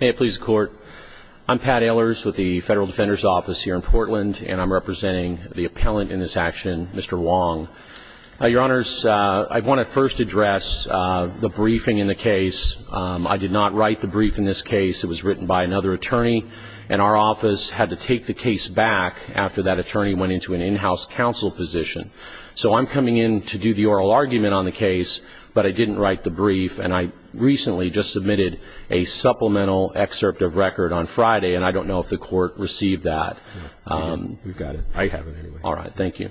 May it please the Court. I'm Pat Ehlers with the Federal Defender's Office here in Portland, and I'm representing the appellant in this action, Mr. Wong. Your Honors, I want to first address the briefing in the case. I did not write the brief in this case. It was written by another attorney, and our office had to take the case back after that attorney went into an in-house counsel position. So I'm coming in to do the oral argument on the case, but I didn't write the brief, and I recently just submitted a supplemental excerpt of record on Friday, and I don't know if the Court received that. We've got it. I have it anyway. All right. Thank you.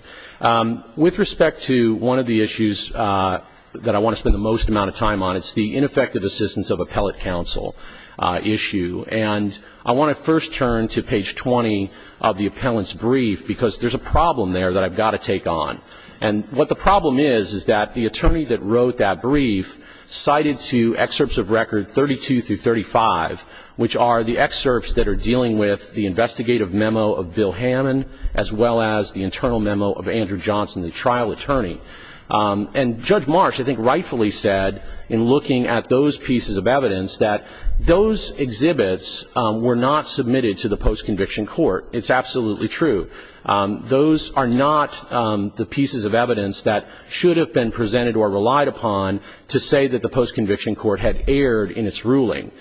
With respect to one of the issues that I want to spend the most amount of time on, it's the ineffective assistance of appellate counsel issue. And I want to first turn to page 20 of the appellant's brief, because there's a problem there that I've got to take on. And what the problem is, is that the attorney that wrote that brief cited two excerpts of record 32 through 35, which are the excerpts that are dealing with the investigative memo of Bill Hammond, as well as the internal memo of Andrew Johnson, the trial attorney. And Judge Marsh, I think, rightfully said, in looking at those pieces of evidence, that those exhibits were not submitted to the post-conviction court. It's absolutely true. Those are not the pieces of evidence that should have been presented or relied upon to say that the post-conviction court had erred in its ruling.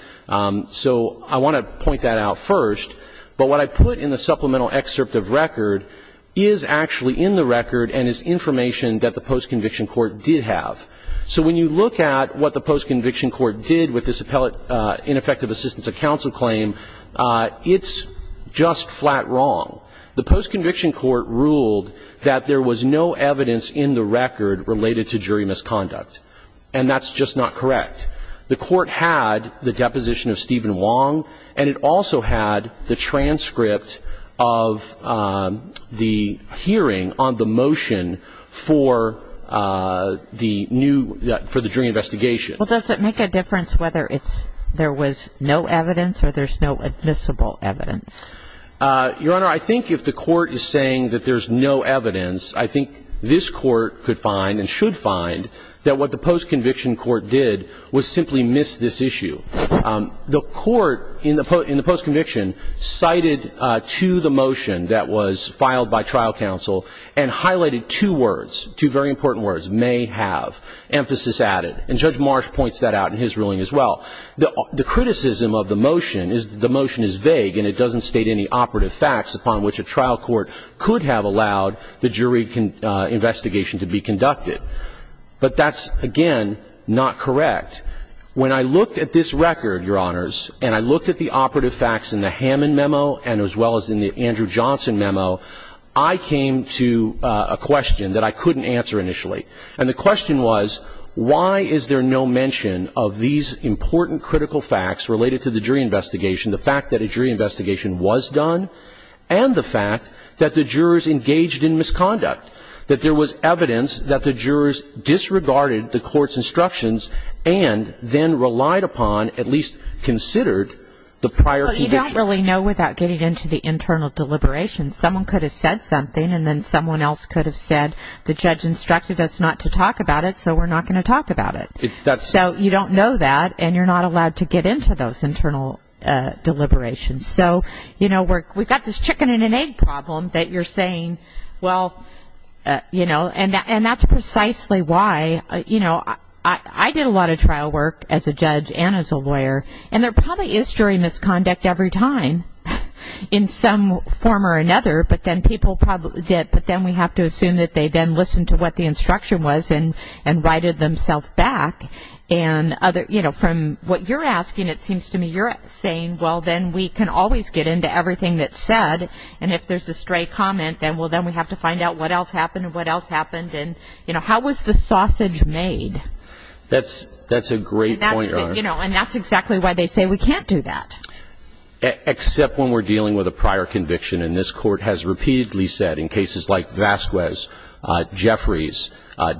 So I want to point that out first. But what I put in the supplemental excerpt of record is actually in the record and is information that the post-conviction court did have. So when you look at what the post-conviction court did with this appellate ineffective assistance of counsel claim, it's just flat wrong. The post-conviction court ruled that there was no evidence in the record related to jury misconduct. And that's just not correct. The court had the deposition of Stephen Wong, and it also had the transcript of the hearing on the motion for the jury investigation. Well, does it make a difference whether there was no evidence or there's no admissible evidence? Your Honor, I think if the court is saying that there's no evidence, I think this Court could find and should find that what the post-conviction court did was simply miss this issue. The court in the post-conviction cited to the motion that was filed by trial counsel and highlighted two words, two very important words, may have, emphasis added. And Judge Marsh points that out in his ruling as well. The criticism of the motion is that the motion is vague and it doesn't state any operative facts upon which a trial court could have allowed the jury investigation to be conducted. But that's, again, not correct. When I looked at this record, Your Honors, and I looked at the operative facts in the Hammond memo and as well as in the Andrew Johnson memo, I came to a question that I couldn't answer initially. And the question was, why is there no mention of these important critical facts related to the jury investigation, the fact that a jury investigation was done, and the fact that the jurors engaged in misconduct, that there was evidence that the jurors disregarded the court's instructions and then relied upon, at least considered, the prior condition? Well, you don't really know without getting into the internal deliberations. Someone could have said something, and then someone else could have said, the judge instructed us not to talk about it, so we're not going to talk about it. So you don't know that, and you're not allowed to get into those internal deliberations. So, you know, we've got this chicken and an egg problem that you're saying, well, you know, and that's precisely why, you know, I did a lot of trial work as a judge and as a lawyer, and there probably is jury misconduct every time. In some form or another, but then people probably did, but then we have to assume that they then listened to what the instruction was and righted themselves back. And, you know, from what you're asking, it seems to me you're saying, well, then we can always get into everything that's said, and if there's a stray comment, then, well, then we have to find out what else happened and what else happened. And, you know, how was the sausage made? That's a great point. You know, and that's exactly why they say we can't do that. Except when we're dealing with a prior conviction, and this Court has repeatedly said in cases like Vasquez, Jeffries,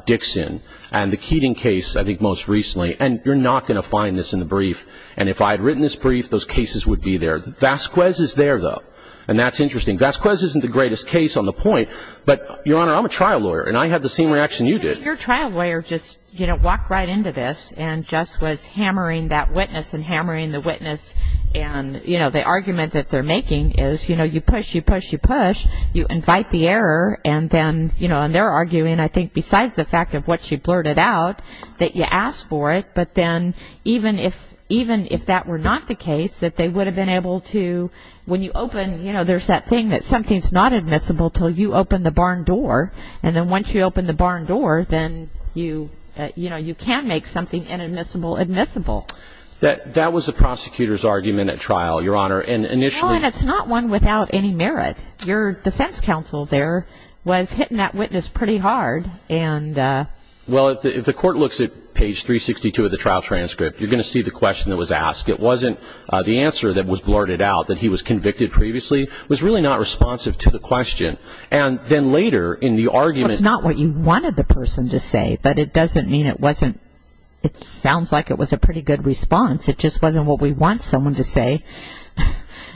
Dixon, and the Keating case, I think most recently, and you're not going to find this in the brief, and if I had written this brief, those cases would be there. Vasquez is there, though, and that's interesting. Vasquez isn't the greatest case on the point, but, Your Honor, I'm a trial lawyer, and I had the same reaction you did. But your trial lawyer just, you know, walked right into this and just was hammering that witness and hammering the witness, and, you know, the argument that they're making is, you know, you push, you push, you push, you invite the error, and then, you know, and they're arguing, I think, besides the fact of what she blurted out, that you asked for it, but then even if that were not the case, that they would have been able to, when you open, you know, there's that thing that something's not admissible until you open the barn door, and then once you open the barn door, then you, you know, you can make something inadmissible admissible. That was the prosecutor's argument at trial, Your Honor, and initially. Well, and it's not one without any merit. Your defense counsel there was hitting that witness pretty hard, and... Well, if the court looks at page 362 of the trial transcript, you're going to see the question that was asked. It wasn't the answer that was blurted out that he was convicted previously. It was really not responsive to the question. And then later in the argument... Well, it's not what you wanted the person to say, but it doesn't mean it wasn't... It sounds like it was a pretty good response. It just wasn't what we want someone to say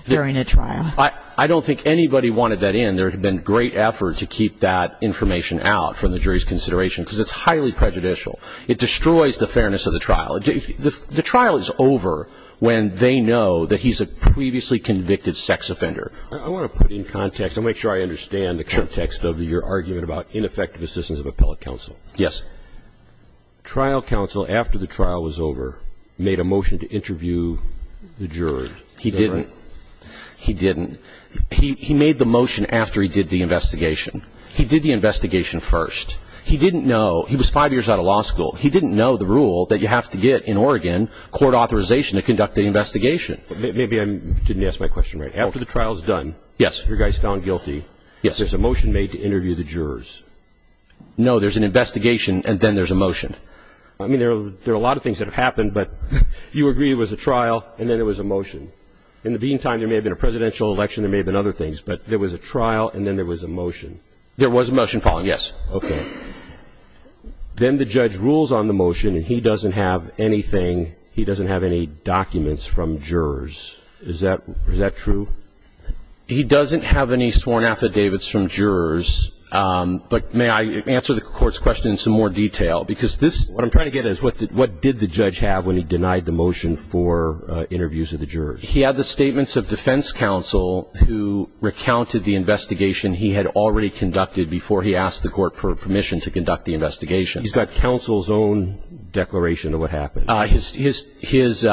during a trial. I don't think anybody wanted that in. There had been great effort to keep that information out from the jury's consideration because it's highly prejudicial. It destroys the fairness of the trial. The trial is over when they know that he's a previously convicted sex offender. I want to put it in context. I want to make sure I understand the context of your argument about ineffective assistance of appellate counsel. Yes. Trial counsel, after the trial was over, made a motion to interview the jurors. He didn't. He didn't. He made the motion after he did the investigation. He did the investigation first. He didn't know... He was five years out of law school. He didn't know the rule that you have to get in Oregon court authorization to conduct the investigation. Maybe I didn't ask my question right. After the trial is done... Yes. Your guy's found guilty. Yes. There's a motion made to interview the jurors. No, there's an investigation and then there's a motion. I mean, there are a lot of things that have happened, but you agree there was a trial and then there was a motion. In the meantime, there may have been a presidential election. There may have been other things, but there was a trial and then there was a motion. There was a motion following, yes. Okay. Then the judge rules on the motion, and he doesn't have anything. He doesn't have any documents from jurors. Is that true? He doesn't have any sworn affidavits from jurors, but may I answer the court's question in some more detail? Because this... What I'm trying to get at is what did the judge have when he denied the motion for interviews of the jurors? He had the statements of defense counsel who recounted the investigation he had already conducted before he asked the court for permission to conduct the investigation. He's got counsel's own declaration of what happened? He's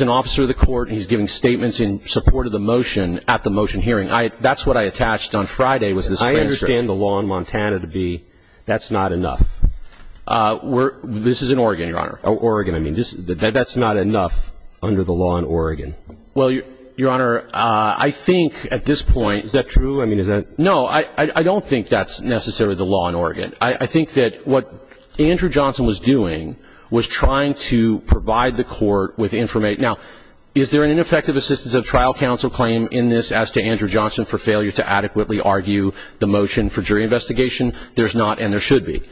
an officer of the court. He's giving statements in support of the motion at the motion hearing. That's what I attached on Friday was this transcript. I understand the law in Montana to be that's not enough. This is in Oregon, Your Honor. Oh, Oregon. I mean, that's not enough under the law in Oregon. Well, Your Honor, I think at this point... Is that true? I mean, is that... No, I don't think that's necessarily the law in Oregon. But I think that what Andrew Johnson was doing was trying to provide the court with information. Now, is there an ineffective assistance of trial counsel claim in this as to Andrew Johnson for failure to adequately argue the motion for jury investigation? There's not, and there should be.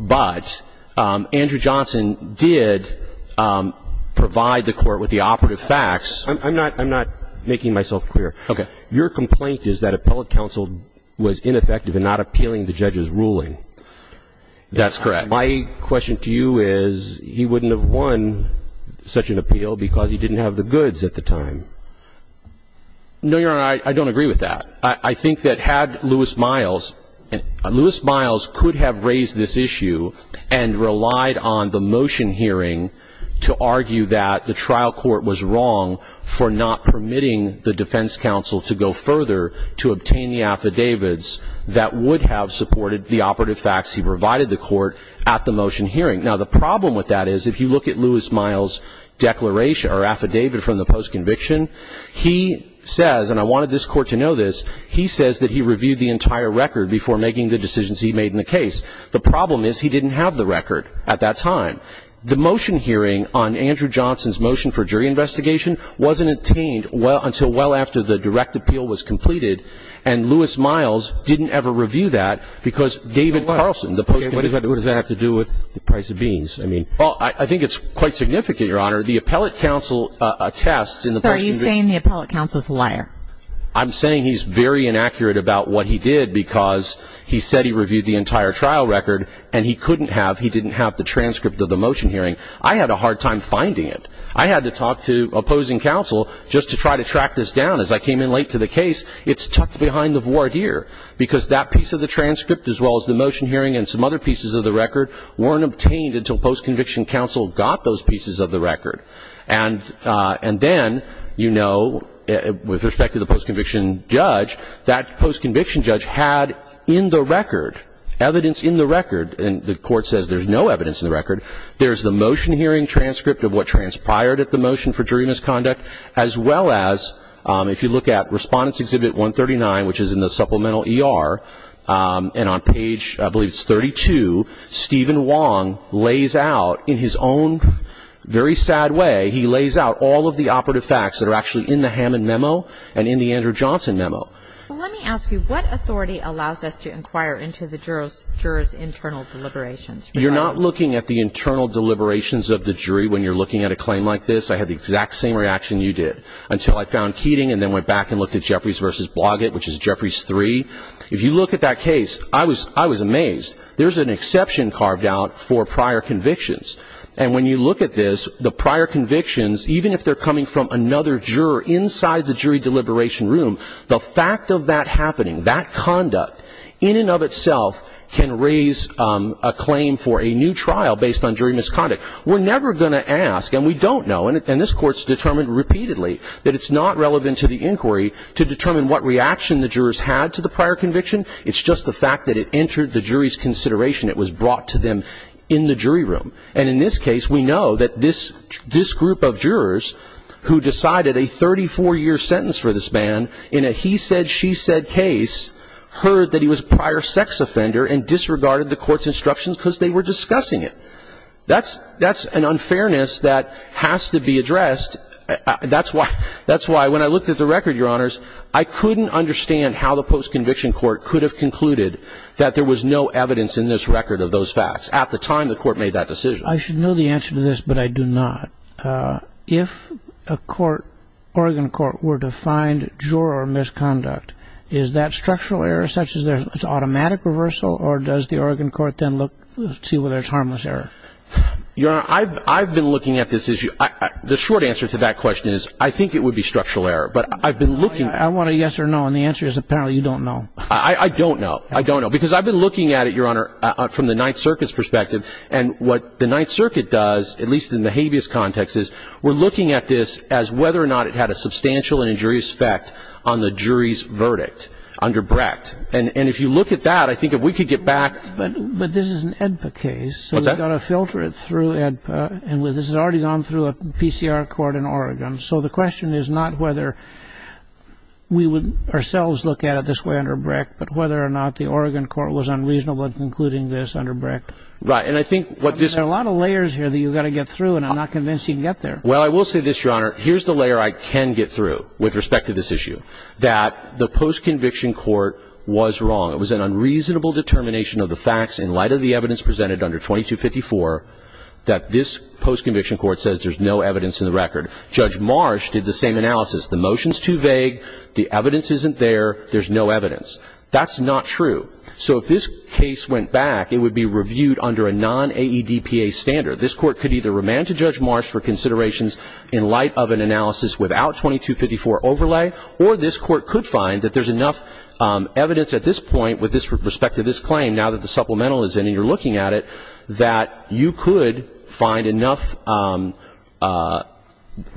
But Andrew Johnson did provide the court with the operative facts. I'm not making myself clear. Okay. Your complaint is that appellate counsel was ineffective in not appealing the judge's ruling. That's correct. My question to you is he wouldn't have won such an appeal because he didn't have the goods at the time. No, Your Honor, I don't agree with that. I think that had Lewis Miles... Lewis Miles could have raised this issue and relied on the motion hearing to argue that the trial court was wrong for not permitting the defense counsel to go further to obtain the affidavits that would have supported the operative facts he provided the court at the motion hearing. Now, the problem with that is if you look at Lewis Miles' declaration or affidavit from the post-conviction, he says, and I wanted this court to know this, he says that he reviewed the entire record before making the decisions he made in the case. The problem is he didn't have the record at that time. Now, the motion hearing on Andrew Johnson's motion for jury investigation wasn't obtained until well after the direct appeal was completed, and Lewis Miles didn't ever review that because David Carlson, the post-conviction... What does that have to do with the price of beans? Well, I think it's quite significant, Your Honor. The appellate counsel attests in the post-conviction... So are you saying the appellate counsel is a liar? I'm saying he's very inaccurate about what he did because he said he reviewed the entire trial record, and he couldn't have, he didn't have the transcript of the motion hearing. I had a hard time finding it. I had to talk to opposing counsel just to try to track this down. As I came in late to the case, it's tucked behind the void here because that piece of the transcript, as well as the motion hearing and some other pieces of the record, weren't obtained until post-conviction counsel got those pieces of the record. And then, you know, with respect to the post-conviction judge, that post-conviction judge had in the record, evidence in the record, and the Court says there's no evidence in the record, there's the motion hearing transcript of what transpired at the motion for jury misconduct, as well as, if you look at Respondents' Exhibit 139, which is in the supplemental ER, and on page, I believe it's 32, Stephen Wong lays out in his own very sad way, he lays out all of the operative facts that are actually in the Hammond memo and in the Andrew Johnson memo. Well, let me ask you, what authority allows us to inquire into the juror's internal deliberations? You're not looking at the internal deliberations of the jury when you're looking at a claim like this. I had the exact same reaction you did until I found Keating and then went back and looked at Jeffries v. Bloggatt, which is Jeffries 3. If you look at that case, I was amazed. There's an exception carved out for prior convictions. And when you look at this, the prior convictions, even if they're coming from another juror inside the jury deliberation room, the fact of that happening, that conduct, in and of itself can raise a claim for a new trial based on jury misconduct. We're never going to ask, and we don't know, and this Court's determined repeatedly that it's not relevant to the inquiry to determine what reaction the jurors had to the prior conviction. It's just the fact that it entered the jury's consideration. It was brought to them in the jury room. And in this case, we know that this group of jurors who decided a 34-year sentence for this man in a he-said-she-said case heard that he was a prior sex offender and disregarded the Court's instructions because they were discussing it. That's an unfairness that has to be addressed. That's why when I looked at the record, Your Honors, I couldn't understand how the post-conviction Court could have concluded that there was no evidence in this record of those facts at the time the Court made that decision. I should know the answer to this, but I do not. If a court, Oregon court, were to find juror misconduct, is that structural error such as there's automatic reversal, or does the Oregon court then look to see whether it's harmless error? Your Honor, I've been looking at this issue. The short answer to that question is I think it would be structural error, but I've been looking. I want a yes or no, and the answer is apparently you don't know. I don't know. I don't know because I've been looking at it, Your Honor, from the Ninth Circuit's perspective, and what the Ninth Circuit does, at least in the habeas context, is we're looking at this as whether or not it had a substantial and injurious effect on the jury's verdict under Brecht, and if you look at that, I think if we could get back. But this is an AEDPA case, so we've got to filter it through AEDPA, and this has already gone through a PCR court in Oregon, so the question is not whether we would ourselves look at it this way under Brecht, but whether or not the Oregon court was unreasonable in concluding this under Brecht. Right. And I think what this... There are a lot of layers here that you've got to get through, and I'm not convinced you can get there. Well, I will say this, Your Honor. Here's the layer I can get through with respect to this issue, that the postconviction court was wrong. It was an unreasonable determination of the facts in light of the evidence presented under 2254 that this postconviction court says there's no evidence in the record. Judge Marsh did the same analysis. The motion's too vague. The evidence isn't there. There's no evidence. That's not true. So if this case went back, it would be reviewed under a non-AEDPA standard. This Court could either remand to Judge Marsh for considerations in light of an analysis without 2254 overlay, or this Court could find that there's enough evidence at this point with respect to this claim, now that the supplemental is in and you're looking at it, that you could find enough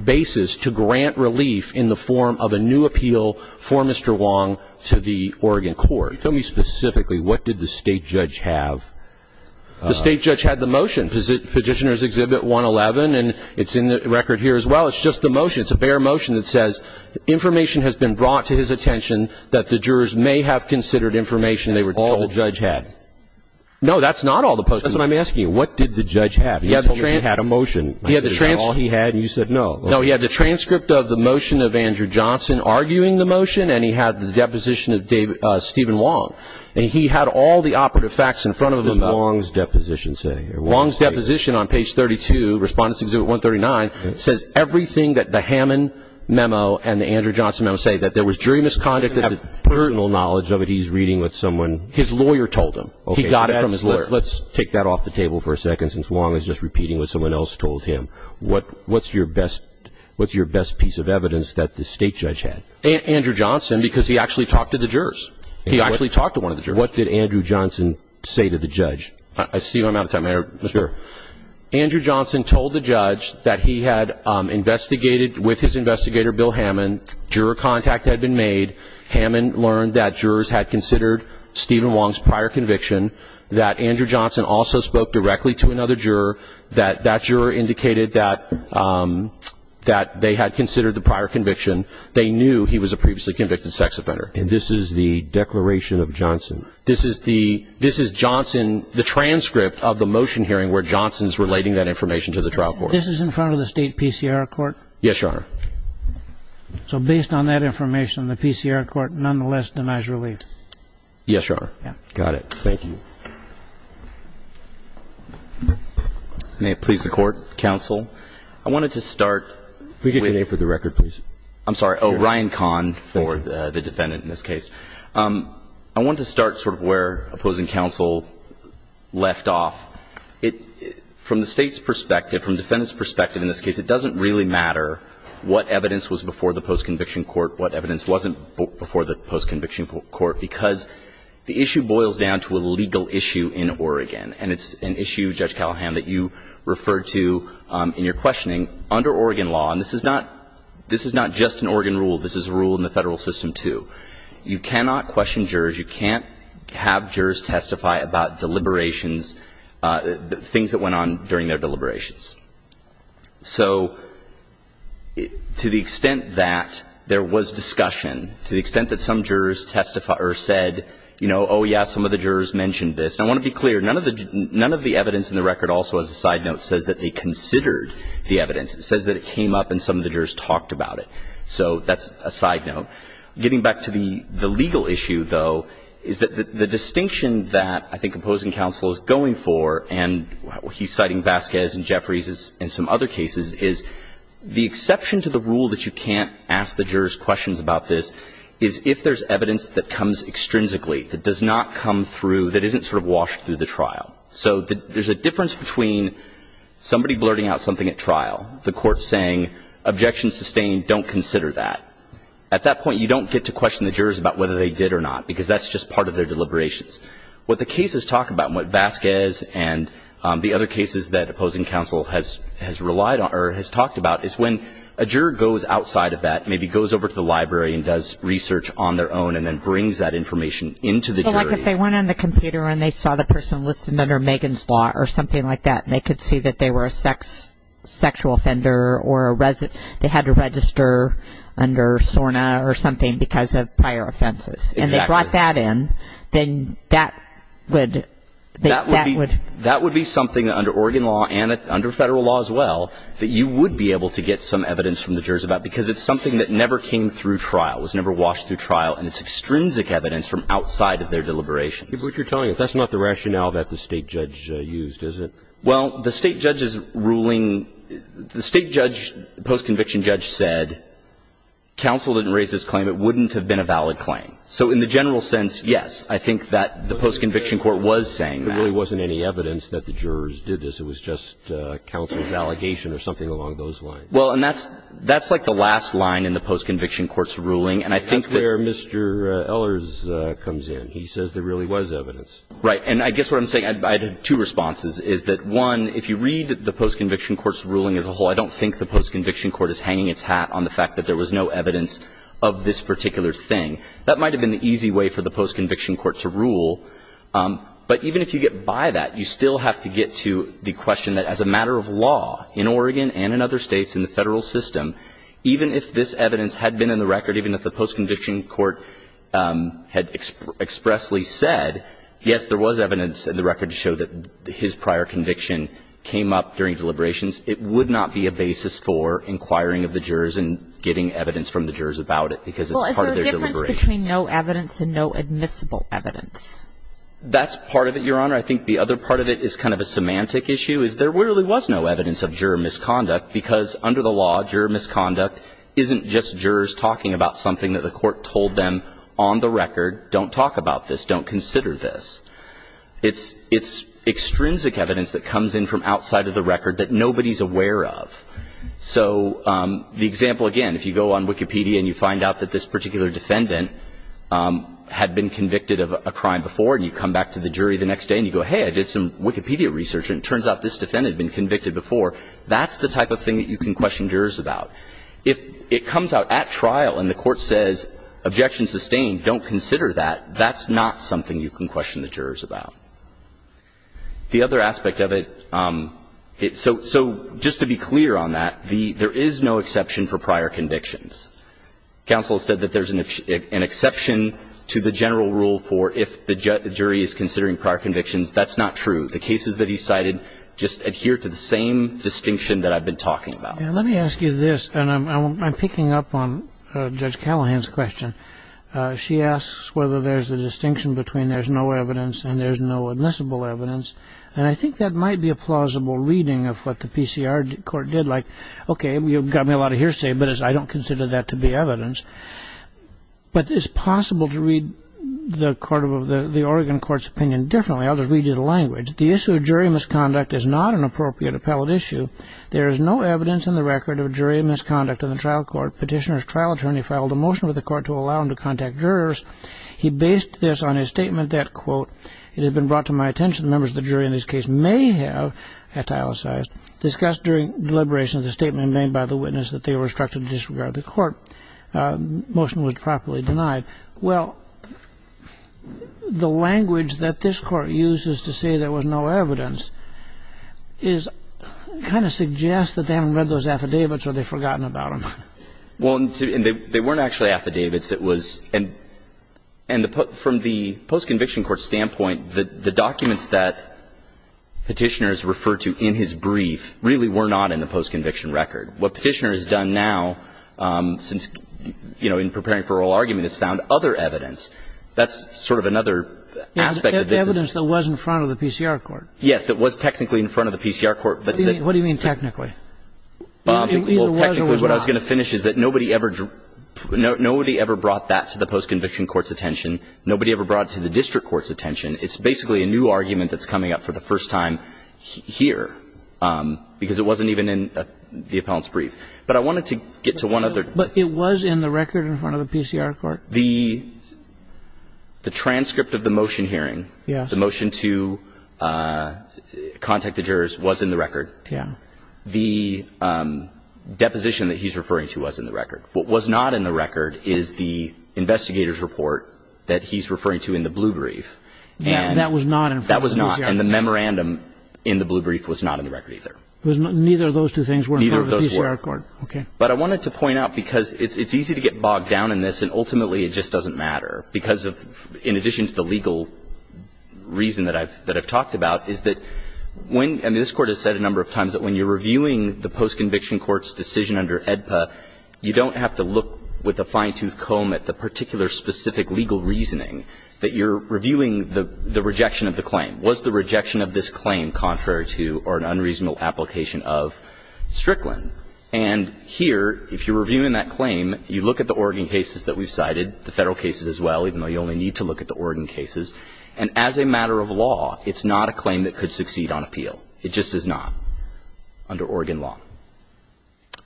basis to grant relief in the form of a new appeal for Mr. Wong to the Oregon court. Tell me specifically, what did the state judge have? The state judge had the motion, Petitioner's Exhibit 111, and it's in the record here as well. It's just the motion. It's a bare motion that says information has been brought to his attention that the jurors may have considered information. All the judge had? No, that's not all the postconviction. That's what I'm asking you. What did the judge have? He told me he had a motion. Is that all he had, and you said no? No, he had the transcript of the motion of Andrew Johnson arguing the motion, and he had the deposition of Stephen Wong, and he had all the operative facts in front of him. What did Wong's deposition say? Wong's deposition on page 32, Respondents' Exhibit 139, says everything that the Hammond memo and the Andrew Johnson memo say, that there was jury misconduct. I don't have personal knowledge of it. He's reading what someone. His lawyer told him. He got it from his lawyer. Let's take that off the table for a second, since Wong is just repeating what someone else told him. What's your best piece of evidence that the state judge had? Andrew Johnson, because he actually talked to the jurors. He actually talked to one of the jurors. What did Andrew Johnson say to the judge? Steve, I'm out of time. Andrew Johnson told the judge that he had investigated with his investigator, Bill Hammond. Juror contact had been made. Hammond learned that jurors had considered Stephen Wong's prior conviction, that Andrew Johnson also spoke directly to another juror, that that juror indicated that they had considered the prior conviction. They knew he was a previously convicted sex offender. And this is the declaration of Johnson? This is the Johnson, the transcript of the motion hearing where Johnson's relating that information to the trial court. This is in front of the state PCR court? Yes, Your Honor. So based on that information, the PCR court nonetheless denies relief? Yes, Your Honor. Got it. Thank you. May it please the Court, Counsel. I wanted to start with the record, please. I'm sorry. Oh, Ryan Kahn for the defendant in this case. I wanted to start sort of where opposing counsel left off. From the State's perspective, from the defendant's perspective in this case, it doesn't really matter what evidence was before the postconviction court, what evidence wasn't before the postconviction court, because the issue boils down to a legal issue in Oregon. And it's an issue, Judge Callahan, that you referred to in your questioning. Under Oregon law, and this is not just an Oregon rule. This is a rule in the Federal system, too. You cannot question jurors. You can't have jurors testify about deliberations, things that went on during their deliberations. So to the extent that there was discussion, to the extent that some jurors testified or said, you know, oh, yeah, some of the jurors mentioned this. And I want to be clear. None of the evidence in the record also, as a side note, says that they considered the evidence. It says that it came up and some of the jurors talked about it. So that's a side note. Getting back to the legal issue, though, is that the distinction that I think opposing counsel is going for, and he's citing Vasquez and Jeffries and some other cases, is the exception to the rule that you can't ask the jurors questions about this is if there's evidence that comes extrinsically, that does not come through, that isn't sort of washed through the trial. So there's a difference between somebody blurting out something at trial, the court saying objections sustained, don't consider that. At that point, you don't get to question the jurors about whether they did or not, because that's just part of their deliberations. What the cases talk about and what Vasquez and the other cases that opposing counsel has relied on or has talked about is when a juror goes outside of that, maybe goes over to the library and does research on their own and then brings that information into the jury. Like if they went on the computer and they saw the person listed under Megan's Law or something like that, and they could see that they were a sexual offender or they had to register under SORNA or something because of prior offenses. Exactly. And they brought that in, then that would be something under Oregon Law and under federal law as well that you would be able to get some evidence from the jurors about, because it's something that never came through trial, was never washed through trial, and it's extrinsic evidence from outside of their deliberations. But you're telling us that's not the rationale that the State judge used, is it? Well, the State judge's ruling, the State judge, the post-conviction judge said counsel didn't raise this claim. It wouldn't have been a valid claim. So in the general sense, yes, I think that the post-conviction court was saying that. There really wasn't any evidence that the jurors did this. It was just counsel's allegation or something along those lines. Well, and that's like the last line in the post-conviction court's ruling, and I think that's where Mr. Ehlers comes in. He says there really was evidence. Right. And I guess what I'm saying, I have two responses, is that, one, if you read the post-conviction court's ruling as a whole, I don't think the post-conviction court is hanging its hat on the fact that there was no evidence of this particular thing. That might have been the easy way for the post-conviction court to rule, but even if you get by that, you still have to get to the question that as a matter of law in Oregon and in other states in the federal system, even if this evidence had been in the record, even if the post-conviction court had expressly said, yes, there was evidence in the record to show that his prior conviction came up during deliberations, it would not be a basis for inquiring of the jurors and getting evidence from the jurors about it because it's part of their deliberations. Well, is there a difference between no evidence and no admissible evidence? That's part of it, Your Honor. I think the other part of it is kind of a semantic issue, is there really was no evidence of juror misconduct because under the law, juror misconduct isn't just jurors talking about something that the court told them on the record, don't talk about this, don't consider this. It's extrinsic evidence that comes in from outside of the record that nobody is aware of. So the example, again, if you go on Wikipedia and you find out that this particular defendant had been convicted of a crime before and you come back to the jury the next day and you go, hey, I did some Wikipedia research and it turns out this defendant had been convicted before, that's the type of thing that you can question jurors about. If it comes out at trial and the court says, objection sustained, don't consider that, that's not something you can question the jurors about. The other aspect of it, so just to be clear on that, there is no exception for prior convictions. Counsel said that there's an exception to the general rule for if the jury is considering prior convictions, that's not true. The cases that he cited just adhere to the same distinction that I've been talking about. Let me ask you this, and I'm picking up on Judge Callahan's question. She asks whether there's a distinction between there's no evidence and there's no admissible evidence. And I think that might be a plausible reading of what the PCR court did, like, okay, you've got me a lot of hearsay, but I don't consider that to be evidence. But it's possible to read the Oregon court's opinion differently. I'll just read you the language. The issue of jury misconduct is not an appropriate appellate issue. There is no evidence in the record of jury misconduct in the trial court. Petitioner's trial attorney filed a motion with the court to allow him to contact jurors. He based this on his statement that, quote, it had been brought to my attention members of the jury in this case may have, et al. discussed during deliberations a statement made by the witness that they were instructed to disregard the court. Motion was properly denied. Well, the language that this Court uses to say there was no evidence is kind of suggests that they haven't read those affidavits or they've forgotten about them. Well, and they weren't actually affidavits. It was and from the post-conviction court standpoint, the documents that Petitioner has referred to in his brief really were not in the post-conviction record. What Petitioner has done now since, you know, in preparing for oral argument is found other evidence. That's sort of another aspect of this. Evidence that was in front of the PCR court. Yes, that was technically in front of the PCR court. What do you mean technically? Well, technically what I was going to finish is that nobody ever brought that to the post-conviction court's attention. Nobody ever brought it to the district court's attention. It's basically a new argument that's coming up for the first time here, because it wasn't even in the appellant's brief. But I wanted to get to one other thing. But it was in the record in front of the PCR court? The transcript of the motion hearing, the motion to contact the jurors was in the record. Yes. The deposition that he's referring to was in the record. What was not in the record is the investigator's report that he's referring to in the blue brief. That was not in front of the PCR court. That was not. And the memorandum in the blue brief was not in the record either. Neither of those two things were in front of the PCR court. Neither of those were. Okay. But I wanted to point out, because it's easy to get bogged down in this, and ultimately it just doesn't matter, because of, in addition to the legal reason that I've talked about, is that when, and this Court has said a number of times, that when you're reviewing the post-conviction court's decision under AEDPA, you don't have to look with a fine-tooth comb at the particular specific legal reasoning, that you're reviewing the rejection of the claim. Was the rejection of this claim contrary to or an unreasonable application of Strickland? And here, if you're reviewing that claim, you look at the Oregon cases that we've cited, the Federal cases as well, even though you only need to look at the Oregon cases, and as a matter of law, it's not a claim that could succeed on appeal. It just is not under Oregon law.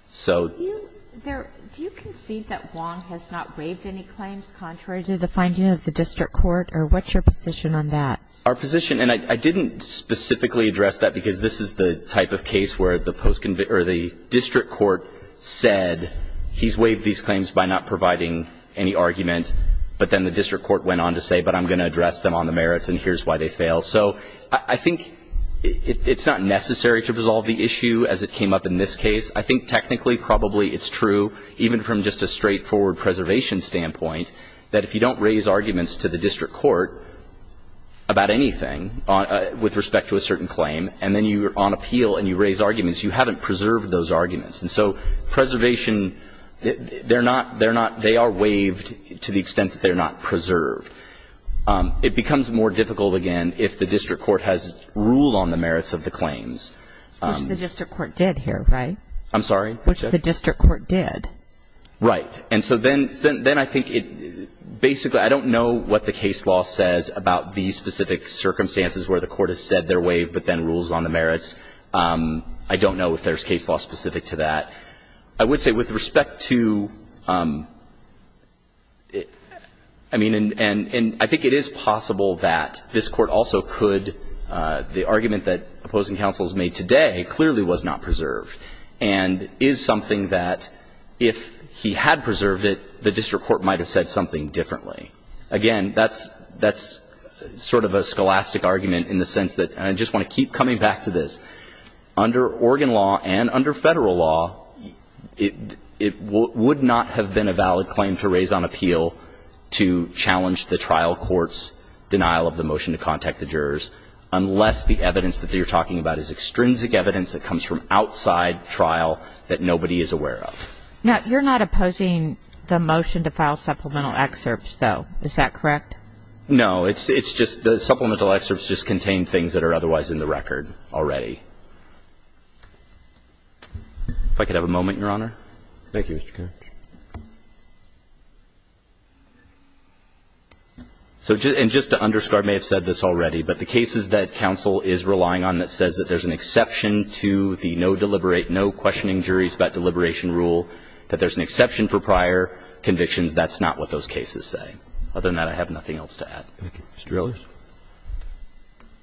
So do you concede that Wong has not waived any claims contrary to the finding of the district court? Or what's your position on that? Our position, and I didn't specifically address that, because this is the type of case where the post-conviction, or the district court said he's waived these claims by not providing any argument, but then the district court went on to say, but I'm going to address them on the merits, and here's why they fail. So I think it's not necessary to resolve the issue as it came up in this case. I think technically, probably, it's true, even from just a straightforward preservation standpoint, that if you don't raise arguments to the district court about anything with respect to a certain claim, and then you're on appeal and you raise arguments, you haven't preserved those arguments. And so preservation, they're not they are waived to the extent that they're not preserved. It becomes more difficult, again, if the district court has rule on the merits of the claims. Which the district court did here, right? I'm sorry? Which the district court did. Right. And so then I think it basically, I don't know what the case law says about the specific circumstances where the court has said they're waived, but then rules on the merits. I don't know if there's case law specific to that. I would say with respect to, I mean, and I think it is possible that this Court also could, the argument that opposing counsel has made today clearly was not preserved, and is something that if he had preserved it, the district court might have said something differently. Again, that's sort of a scholastic argument in the sense that, and I just want to keep coming back to this, under Oregon law and under Federal law, it would not have been a valid claim to raise on appeal to challenge the trial court's denial of the motion to contact the jurors unless the evidence that you're talking about is extrinsic evidence that comes from outside trial that nobody is aware of. Now, you're not opposing the motion to file supplemental excerpts, though. Is that correct? No. It's just the supplemental excerpts just contain things that are otherwise in the record already. If I could have a moment, Your Honor. Thank you, Mr. Kirch. So, and just to underscore, I may have said this already, but the cases that counsel is relying on that says that there's an exception to the no deliberate, no questioning juries about deliberation rule, that there's an exception for prior convictions, that's not what those cases say. Other than that, I have nothing else to add. Thank you. Mr. Ellers?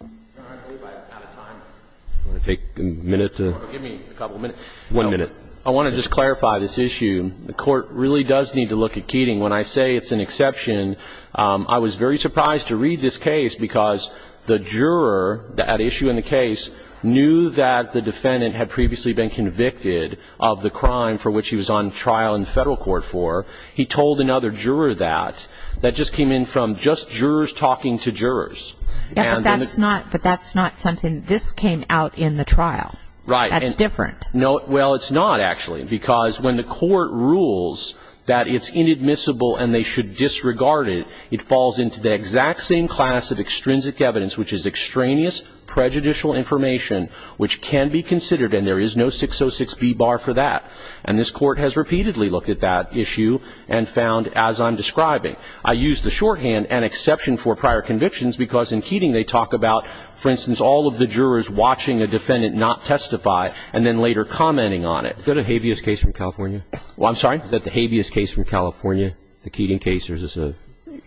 I believe I'm out of time. Do you want to take a minute to? Give me a couple of minutes. One minute. I want to just clarify this issue. The court really does need to look at Keating. When I say it's an exception, I was very surprised to read this case because the juror, that issue in the case, knew that the defendant had previously been convicted of the crime for which he was on trial in the federal court for. He told another juror that. That just came in from just jurors talking to jurors. Yeah, but that's not something, this came out in the trial. Right. That's different. No, well, it's not, actually, because when the court rules that it's inadmissible and they should disregard it, it falls into the exact same class of extrinsic evidence, which is extraneous prejudicial information, which can be considered, and there is no 606B bar for that. And this court has repeatedly looked at that issue and found, as I'm describing, I used the shorthand, an exception for prior convictions, because in Keating they talked about, for instance, all of the jurors watching a defendant not testify and then later commenting on it. Is that a habeas case from California? Well, I'm sorry? Is that the habeas case from California, the Keating case, or is this a?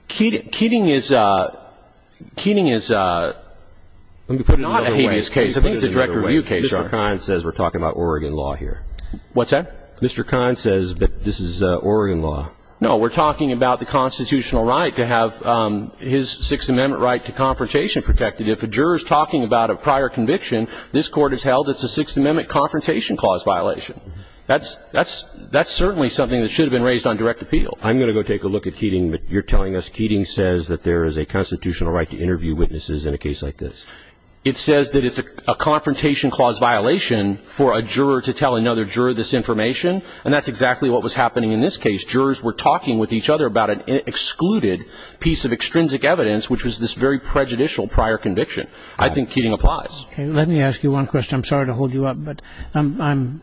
Keating is not a habeas case. I think it's a direct review case. Mr. Kine says we're talking about Oregon law here. What's that? Mr. Kine says that this is Oregon law. No, we're talking about the constitutional right to have his Sixth Amendment right to confrontation protected. If a juror is talking about a prior conviction, this court has held it's a Sixth Amendment confrontation clause violation. That's certainly something that should have been raised on direct appeal. I'm going to go take a look at Keating, but you're telling us Keating says that there is a constitutional right to interview witnesses in a case like this. It says that it's a confrontation clause violation for a juror to tell another juror this information, and that's exactly what was happening in this case. Jurors were talking with each other about an excluded piece of extrinsic evidence, which was this very prejudicial prior conviction. I think Keating applies. Okay. Let me ask you one question. I'm sorry to hold you up, but I'm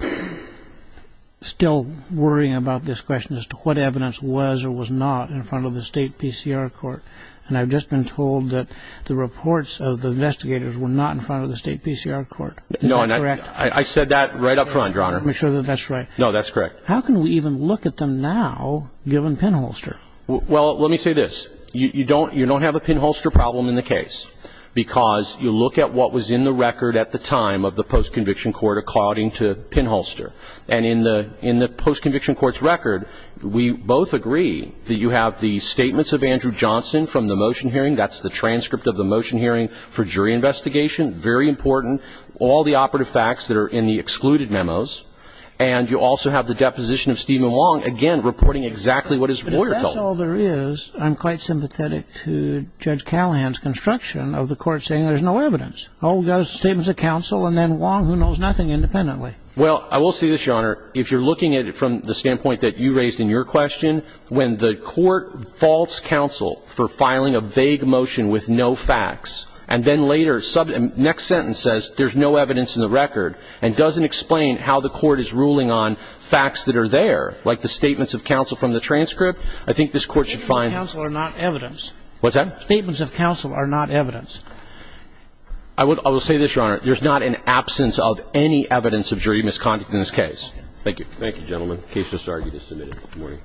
still worrying about this question as to what evidence was or was not in front of the state PCR court. And I've just been told that the reports of the investigators were not in front of the state PCR court. Is that correct? I said that right up front, Your Honor. Make sure that that's right. No, that's correct. How can we even look at them now, given Penholster? Well, let me say this. You don't have a Penholster problem in the case, because you look at what was in the record at the time of the post-conviction court according to Penholster. And in the post-conviction court's record, we both agree that you have the statements of Andrew Johnson from the motion hearing. That's the transcript of the motion hearing for jury investigation. Very important. All the operative facts that are in the excluded memos. And you also have the deposition of Stephen Wong, again, reporting exactly what his lawyer told him. That's all there is. I'm quite sympathetic to Judge Callahan's construction of the court saying there's no evidence. Oh, we've got statements of counsel, and then Wong, who knows nothing independently. Well, I will say this, Your Honor. If you're looking at it from the standpoint that you raised in your question, when the court faults counsel for filing a vague motion with no facts, and then later, next sentence says there's no evidence in the record, and doesn't explain how the court is ruling on facts that are there, like the statements of counsel from the I think this Court should find that. Statements of counsel are not evidence. What's that? Statements of counsel are not evidence. I will say this, Your Honor. There's not an absence of any evidence of jury misconduct in this case. Thank you. Thank you, gentlemen. Case disargued is submitted. Good morning.